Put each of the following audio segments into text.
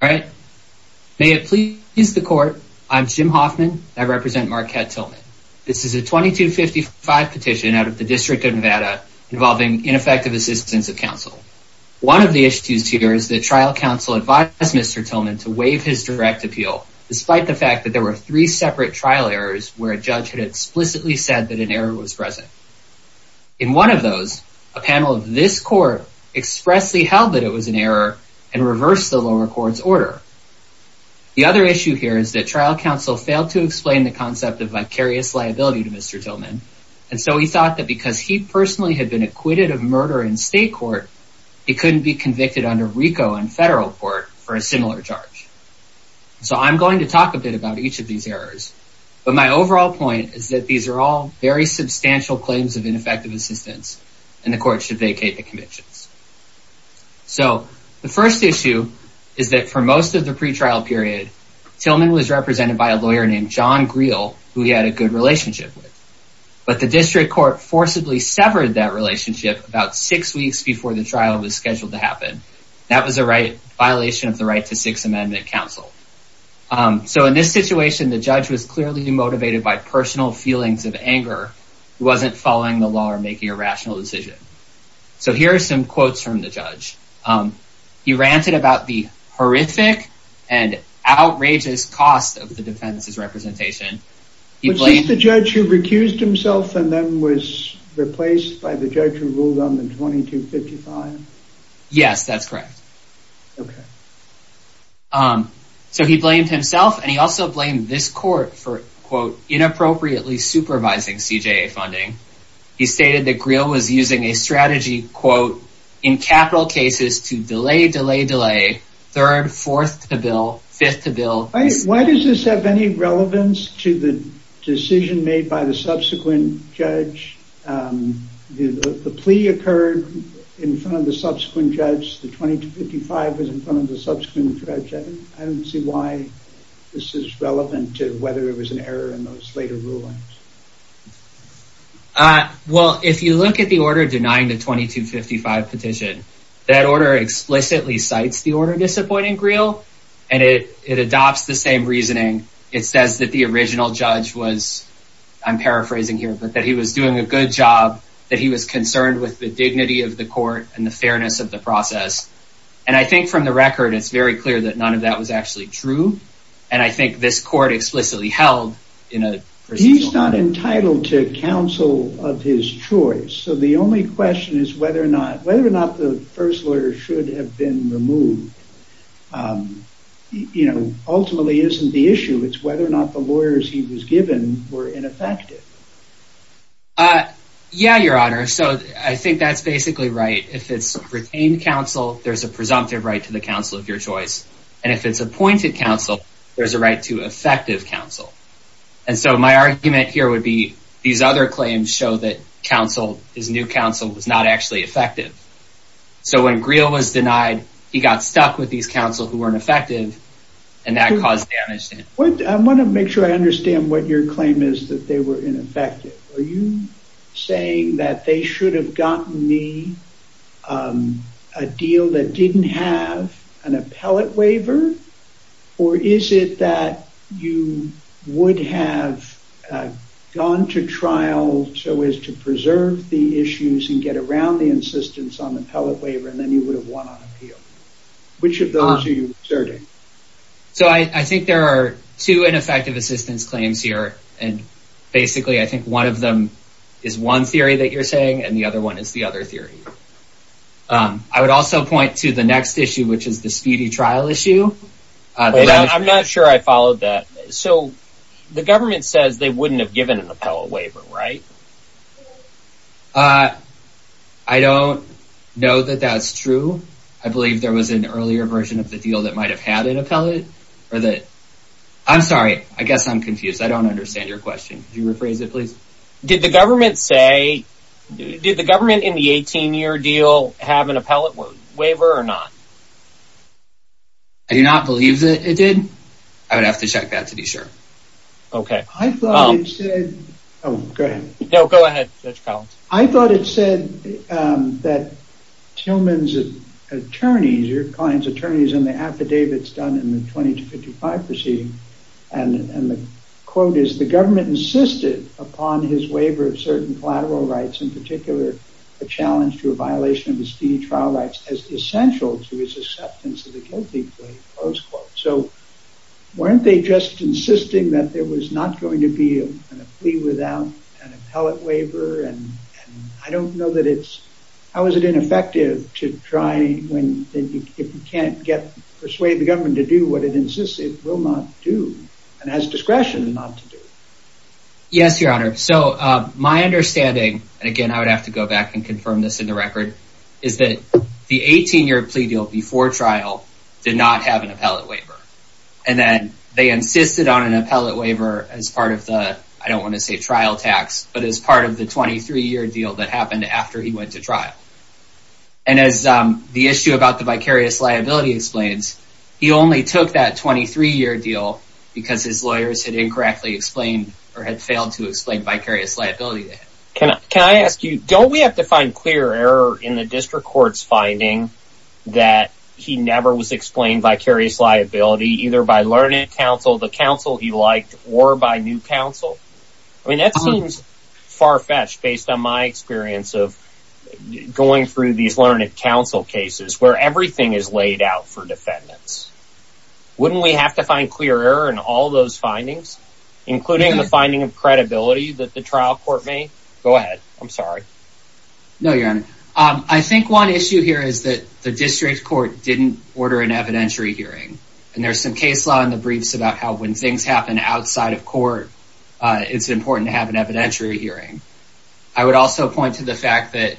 May it please the court, I am Jim Hoffman and I represent Markette Tillman. This is a 2255 petition out of the District of Nevada involving ineffective assistance of counsel. One of the issues here is that trial counsel advised Mr. Tillman to waive his direct appeal despite the fact that there were three separate trial errors where a judge had explicitly said that an error was present. In one of those, a panel of this court expressly held that it was an error and reversed the lower court's order. The other issue here is that trial counsel failed to explain the concept of vicarious liability to Mr. Tillman, and so he thought that because he personally had been acquitted of murder in state court, he couldn't be convicted under RICO and federal court for a similar charge. So I'm going to talk a bit about each of these errors, but my overall point is that these are all very similar. So the first issue is that for most of the pretrial period, Tillman was represented by a lawyer named John Greel, who he had a good relationship with, but the district court forcibly severed that relationship about six weeks before the trial was scheduled to happen. That was a right violation of the right to Sixth Amendment counsel. So in this situation, the judge was clearly motivated by personal feelings of anger. He wasn't following the making a rational decision. So here are some quotes from the judge. He ranted about the horrific and outrageous cost of the defense's representation. He blamed the judge who recused himself and then was replaced by the judge who ruled on the 2255. Yes, that's correct. So he blamed himself and he also blamed this court for quote inappropriately supervising CJA funding. He stated that Greel was using a strategy quote in capital cases to delay, delay, delay third, fourth to bill, fifth to bill. Why does this have any relevance to the decision made by the subsequent judge? The plea occurred in front of the subsequent judge. The 2255 was in front of the subsequent judge. I don't see why this is relevant to whether it was an error in later rulings. Well, if you look at the order denying the 2255 petition, that order explicitly cites the order disappointing Greel and it adopts the same reasoning. It says that the original judge was, I'm paraphrasing here, but that he was doing a good job, that he was concerned with the dignity of the court and the fairness of the process. And I think from the record, it's very He's not entitled to counsel of his choice. So the only question is whether or not, whether or not the first lawyer should have been removed, you know, ultimately isn't the issue. It's whether or not the lawyers he was given were ineffective. Yeah, your honor. So I think that's basically right. If it's retained counsel, there's a presumptive right to the counsel of your choice. And if it's appointed counsel, there's a right to effective counsel. And so my argument here would be these other claims show that counsel, his new counsel was not actually effective. So when Greel was denied, he got stuck with these counsel who weren't effective and that caused damage. I want to make sure I understand what your claim is that they were ineffective. Are you saying that they should have gotten me a deal that didn't have an appellate waiver? Or is it that you would have gone to trial so as to preserve the issues and get around the insistence on the appellate waiver and then you would have won on appeal? Which of those are you asserting? So I think there are two ineffective assistance claims here. And basically, I think one of them is one theory that you're saying and the other one is the other theory. I would also point to the next issue, which is the speedy trial issue. I'm not sure I followed that. So the government says they wouldn't have given an appellate waiver, right? I don't know that that's true. I believe there was an earlier version of the deal that might have had an appellate or that. I'm sorry. I guess I'm confused. I don't understand your question. You rephrase it, please. Did the government say, did the government in the 18-year deal have an appellate waiver or not? I do not believe that it did. I would have to check that to be sure. Okay. I thought it said, oh, go ahead. No, go ahead, Judge Collins. I thought it said that Tillman's attorneys, your client's attorneys in the affidavits done in the 20 to 55 proceeding and the quote is, the government insisted upon his waiver of certain collateral rights, in particular, a challenge to a violation of his speedy trial rights as essential to his acceptance of the guilty plea, close quote. So weren't they just insisting that there was not going to be a plea without an appellate waiver? And I don't know that it's, how is it ineffective to try if you can't get, persuade the government to do what it insists it will not do and has discretion not to do. Yes, your honor. So my understanding, and again, I would have to go back and confirm this in the record, is that the 18-year plea deal before trial did not have an appellate waiver. And then they insisted on an appellate waiver as part of the, I don't want to say trial tax, but as part of the 23-year deal that happened after he went to trial. And as the issue about the vicarious liability explains, he only took that 23-year deal because his lawyers had incorrectly explained or had failed to explain vicarious liability. Can I ask you, don't we have to find clear error in the district court's finding that he never was explained vicarious liability either by learning counsel, the counsel he liked, or by new counsel? I mean, that seems far-fetched based on my experience of going through these learned counsel cases where everything is laid out for defendants. Wouldn't we have to find clear error in all those findings, including the finding of credibility that the trial court made? Go ahead. I'm sorry. No, your honor. I think one issue here is that the district court didn't order an evidentiary hearing. And there's some case law in the briefs about how when things happen outside of court, it's important to have an evidentiary hearing. I would also point to the fact that,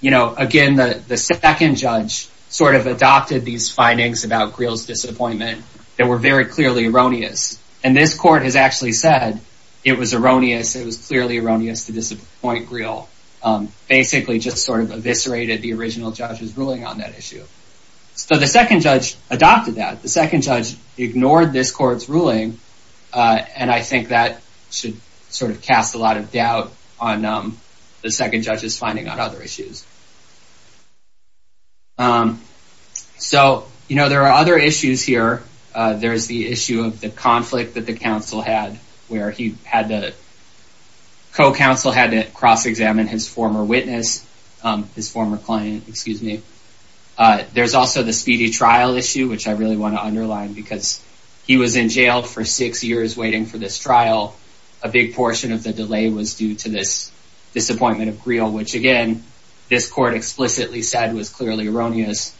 you know, again, the second judge sort of adopted these findings about Greel's disappointment that were very clearly erroneous. And this court has actually said it was erroneous, it was clearly erroneous to disappoint Greel, basically just sort of eviscerated the original judge's ruling on that issue. So the second judge adopted that. The second judge ignored this court's ruling. And I think that should sort of cast a lot of doubt on the second judge's finding on other issues. So, you know, there are other issues here. There's the issue of the conflict that the counsel had, where he had the co-counsel had to cross-examine his former witness, his former client, excuse me. There's also the speedy trial issue, which I really want to underline because he was in jail for six years waiting for this trial. A big portion of the delay was due to this disappointment of Greel, which again, this court explicitly said was clearly erroneous.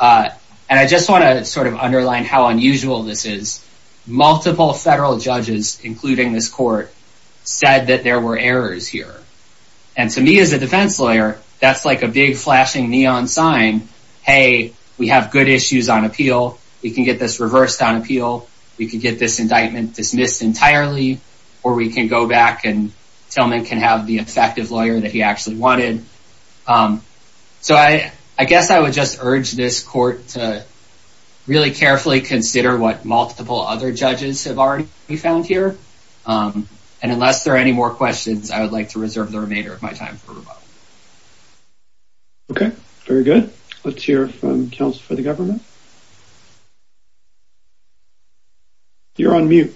And I just want to sort of underline how unusual this is. Multiple federal judges, including this court, said that there were errors here. And to me as a defense lawyer, that's like a big flashing neon sign. Hey, we have good issues on appeal. We can get this reversed on appeal. We can get this indictment dismissed entirely, or we can go back and Tillman can have the effective lawyer that he actually wanted. So I guess I would just urge this court to carefully consider what multiple other judges have already found here. And unless there are any more questions, I would like to reserve the remainder of my time for rebuttal. Okay, very good. Let's hear from counsel for the government. You're on mute.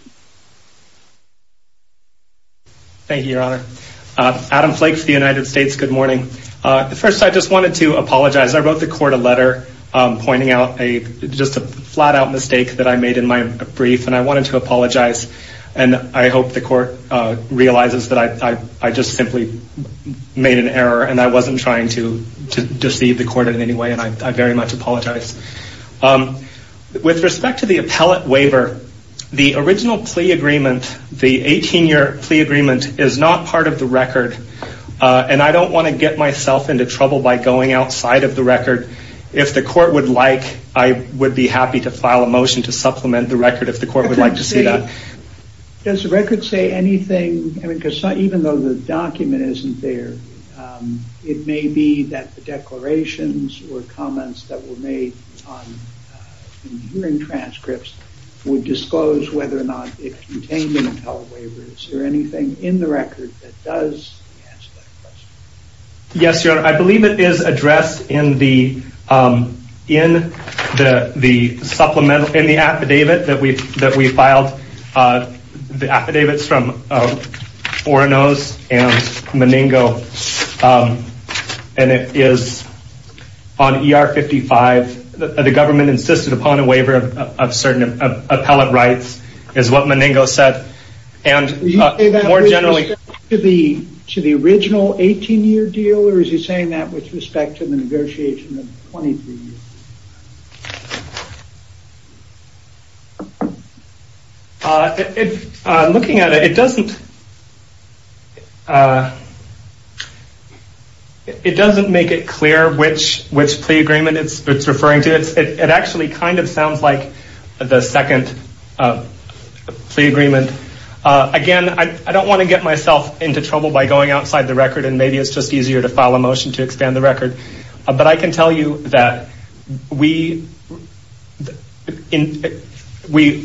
Thank you, Your Honor. Adam Flake for the United States. Good morning. First, I just wanted to flat out mistake that I made in my brief and I wanted to apologize. And I hope the court realizes that I just simply made an error and I wasn't trying to deceive the court in any way. And I very much apologize. With respect to the appellate waiver, the original plea agreement, the 18-year plea agreement is not part of the record. And I don't want to get myself into trouble by going to file a motion to supplement the record if the court would like to see that. Does the record say anything? Because even though the document isn't there, it may be that the declarations or comments that were made on hearing transcripts would disclose whether or not it contained an appellate waiver. Is there anything in the record that does? Yes, Your Honor. I believe it is addressed in the supplemental, in the affidavit that we filed. The affidavit is from Oranos and Meningo. And it is on ER 55. The government insisted upon a waiver of certain appellate rights is what Meningo said. To the original 18-year deal or is he saying that with respect to the negotiation of the 23-year? Looking at it, it doesn't make it clear which plea agreement it's referring to. It actually sounds like the second plea agreement. Again, I don't want to get myself into trouble by going outside the record and maybe it's just easier to file a motion to expand the record. But I can tell you that we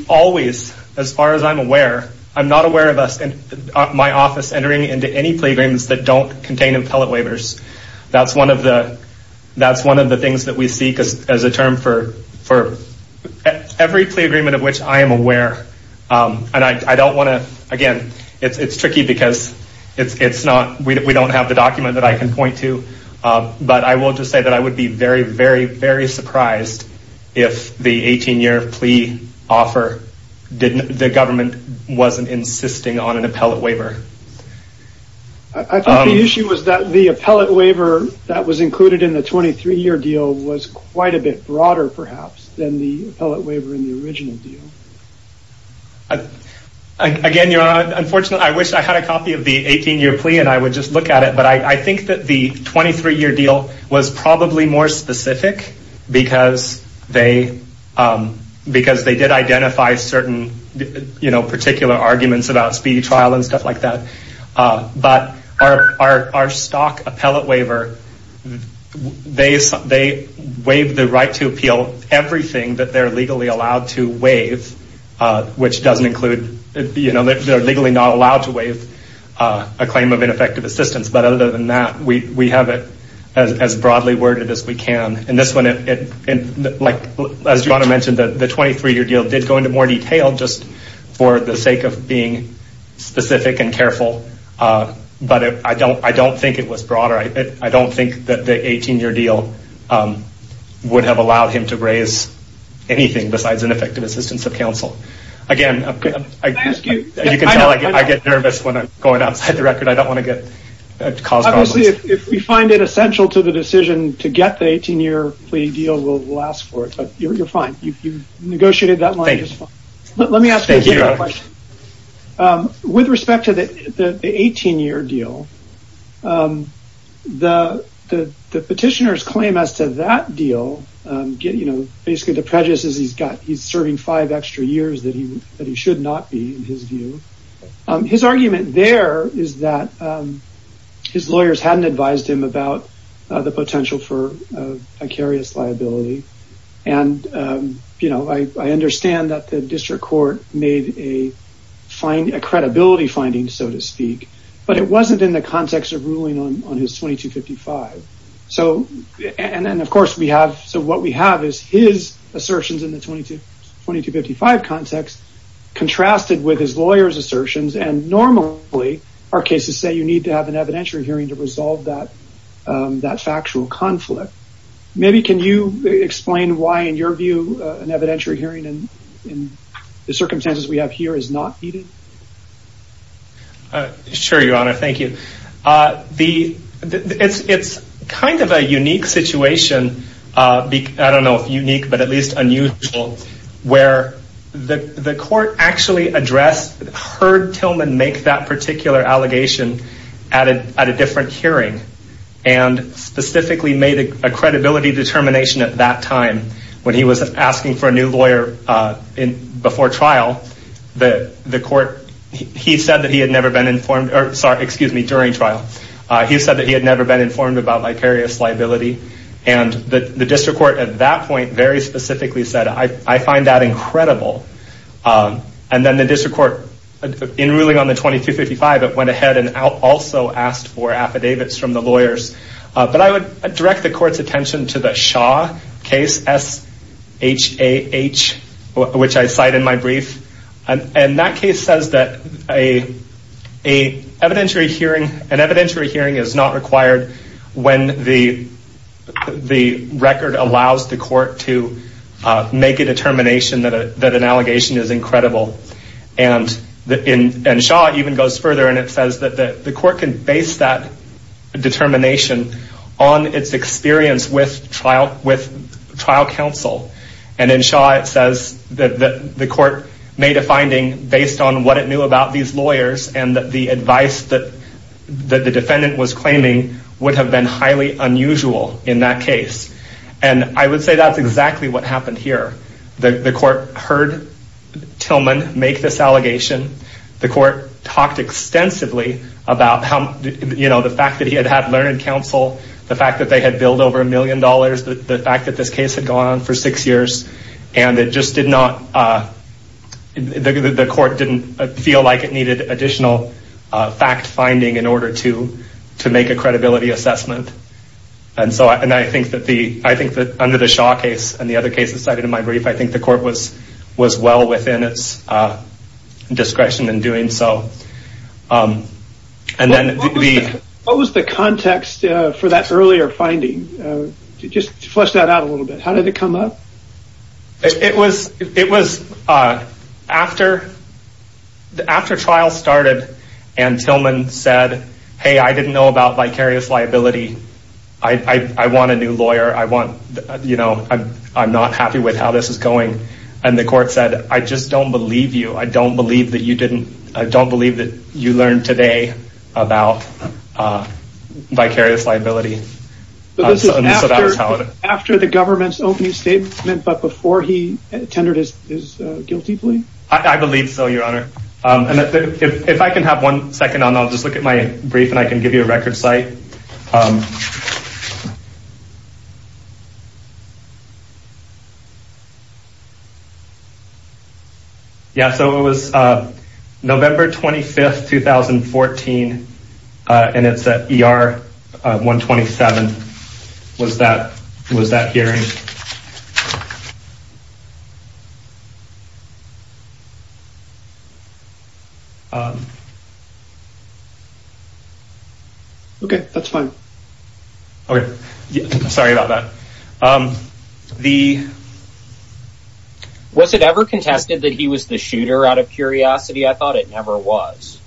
always, as far as I'm aware, I'm not aware of us in my office entering into any plea agreements that don't contain appellate waivers. That's one of the things that we seek as a term for every plea agreement of which I am aware. And I don't want to, again, it's tricky because we don't have the document that I can point to. But I will just say that I would be very, very, very surprised if the 18-year plea offer, the government wasn't insisting on an appellate waiver. I think the issue was that the appellate waiver that was included in the 23-year deal was quite a bit broader, perhaps, than the appellate waiver in the original deal. Again, unfortunately, I wish I had a copy of the 18-year plea and I would just look at it. But I think that the 23-year deal was probably more specific because they did identify certain particular arguments about speedy trial and stuff like that. But our stock appellate waiver, they waive the right to appeal everything that they're legally allowed to waive, which doesn't include, you know, they're legally not allowed to waive a claim of ineffective assistance. But other than that, we have it as broadly worded as we can. And this one, like, as Joanna mentioned, the 23-year deal did go into more detail just for the sake of being specific and careful. But I don't think it was broader. I don't think that the 18-year deal would have allowed him to raise anything besides ineffective assistance of counsel. Again, you can tell I get nervous when I'm going outside the record. I don't want to get cause problems. Obviously, if we find it essential to the decision to get the 18-year plea deal, we'll ask for it. But you're fine. You've negotiated that line just fine. Let me ask you a question. With respect to the 18-year deal, the petitioners claim as to that deal, basically the prejudice is he's serving five extra years that he should not be, in his view. His argument there is that his lawyers hadn't advised him about the potential for vicarious liability. And, you know, I understand that the district court made a credibility finding, so to speak. But it wasn't in the context of ruling on his 2255. And, of course, we have, so what we have is his assertions in the 2255 context contrasted with his lawyer's assertions. And normally, our cases say you need to have an evidentiary hearing to resolve that factual conflict. Maybe can you explain why, in your view, an evidentiary hearing in the circumstances we have here is not needed? Sure, your honor. Thank you. It's kind of a unique situation, I don't know if unique, but at least unusual, where the court actually addressed, heard Tillman make that particular allegation at a different hearing and specifically made a credibility determination at that time when he was asking for a new lawyer before trial. The court, he said that he had never been informed, excuse me, during trial. He said that he had never been informed about vicarious liability. And the district court at that point very specifically said, I find that incredible. And then the district court, in ruling on the 2255, it went ahead and also asked for affidavits from the lawyers. But I would direct the court's attention to the Shaw case, S-H-A-H, which I cite in my brief. And that case says that an evidentiary hearing is not required when the record allows the court to make a determination that an allegation is incredible. And Shaw even goes further and it says that the court can base that determination on its experience with trial counsel. And in Shaw it says that the court made a finding based on what it knew about these lawyers and that the advice that the defendant was claiming would have been highly unusual in that case. And I would say that's exactly what happened here. The court heard Tillman make this allegation. The court talked extensively about how, you know, the fact that he had had learned counsel, the fact that they had billed over a million dollars, the fact that this case had gone on for six years. And it just did not, the court didn't feel like it needed additional fact finding in order to make a credibility assessment. And I think that under the Shaw case and the other cases cited in my brief, I think the court was well within its discretion in doing so. And then the... What was the context for that earlier finding? Just flesh that out a little bit. How did it come up? It was, it was after, after trial started and Tillman said, hey, I didn't know about vicarious liability. I want a new lawyer. I want, you know, I'm not happy with how this is going. And the court said, I just don't believe you. I don't believe that you didn't, I don't believe that you learned today about vicarious liability. This is after the government's opening statement, but before he tendered his guilty plea? I believe so, your honor. And if I can have one second on, I'll just look at my brief and I can give you a record site. Yeah. So it was November 25th, 2014. And it's at ER 127. Was that, was that hearing? Okay. That's fine. Okay. Sorry about that. The... Was it ever contested that he was the shooter out of curiosity? I thought it never was.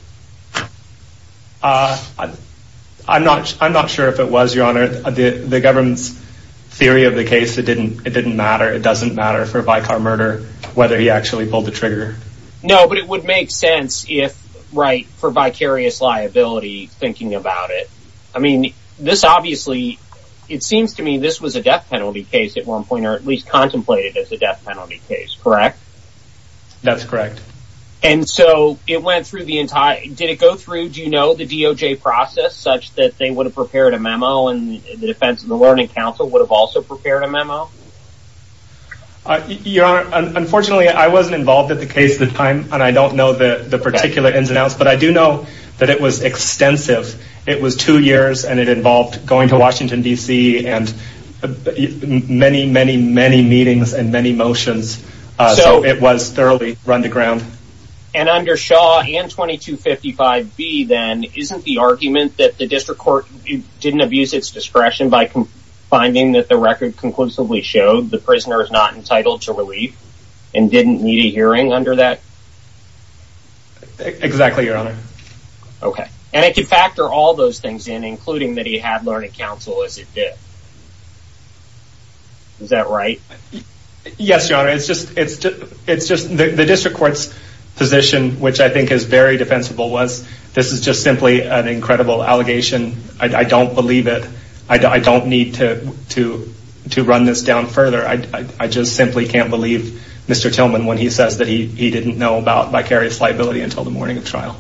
I'm not, I'm not sure if it was, your honor, the government's theory of the case. It didn't, it didn't matter. It doesn't matter for a vicar murder, whether he actually pulled the trigger. No, but it would make sense if right for vicarious liability thinking about it. I mean, this obviously, it seems to me, this was a death penalty case at one point, or at least contemplated as a death penalty case. Correct? That's correct. And so it went through the entire, did it go through, do you know, the DOJ process such that they would have prepared a memo and the defense and the learning council would have also prepared a memo? Your honor, unfortunately I wasn't involved at the case at the time, and I don't know that the particular ins and outs, but I do know that it was extensive. It was two years and it involved going to Washington DC and many, many, many meetings and many motions. So it was thoroughly run the ground. And under Shaw and 2255B then, isn't the argument that the district court didn't abuse its discretion by finding that the record conclusively showed the prisoner is not entitled to relief and didn't need a hearing under that? Exactly, your honor. Okay. And it could factor all those things in, including that had learning council as it did. Is that right? Yes, your honor. It's just the district court's position, which I think is very defensible, was this is just simply an incredible allegation. I don't believe it. I don't need to run this down further. I just simply can't believe Mr. Tillman when he says that he didn't know about vicarious liability until the morning of trial.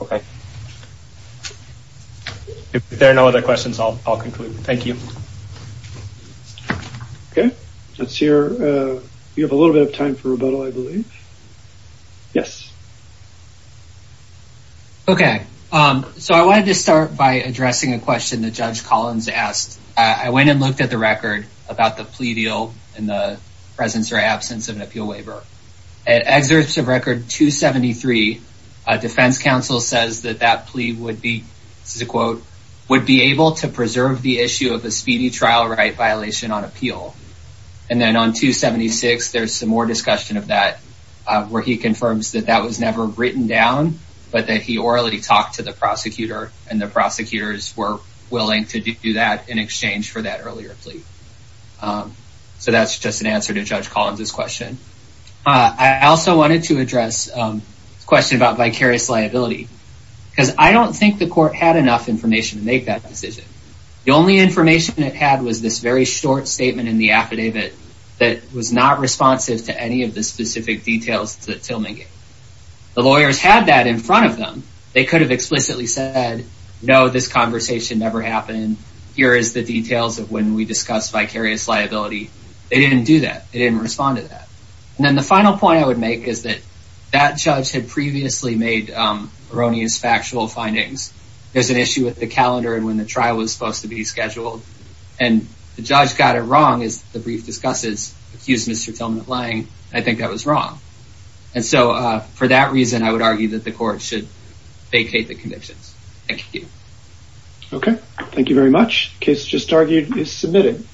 Okay. If there are no other questions, I'll conclude. Thank you. Okay. Let's see here. We have a little bit of time for rebuttal, I believe. Yes. Okay. So I wanted to start by addressing a question that Judge Collins asked. I went and looked at the record about the plea deal and the presence or absence of an appeal waiver. At excerpts of record 273, defense counsel says that that plea would be, this is a quote, would be able to preserve the issue of a speedy trial right violation on appeal. And then on 276, there's some more discussion of that, where he confirms that that was never written down, but that he orally talked to the prosecutor and the prosecutors were willing to do that in exchange for that earlier plea. So that's just an answer to Judge Collins' question. I also wanted to address the question about vicarious liability, because I don't think the court had enough information to make that decision. The only information it had was this very short statement in the affidavit that was not responsive to any of the specific details that Tillman gave. The lawyers had that in front of them. They could have explicitly said, no, this conversation never happened. Here is the details of when we discussed vicarious liability. They didn't do that. They didn't respond to that. And then the final point I would make is that that judge had previously made erroneous factual findings. There's an issue with the calendar and when the trial was supposed to be scheduled. And the judge got it wrong as the brief discusses accused Mr. Tillman of lying. I think that was wrong. And so for that reason, I would argue that the court should vacate the convictions. Thank you. Okay. Thank you very much. Case just is submitted.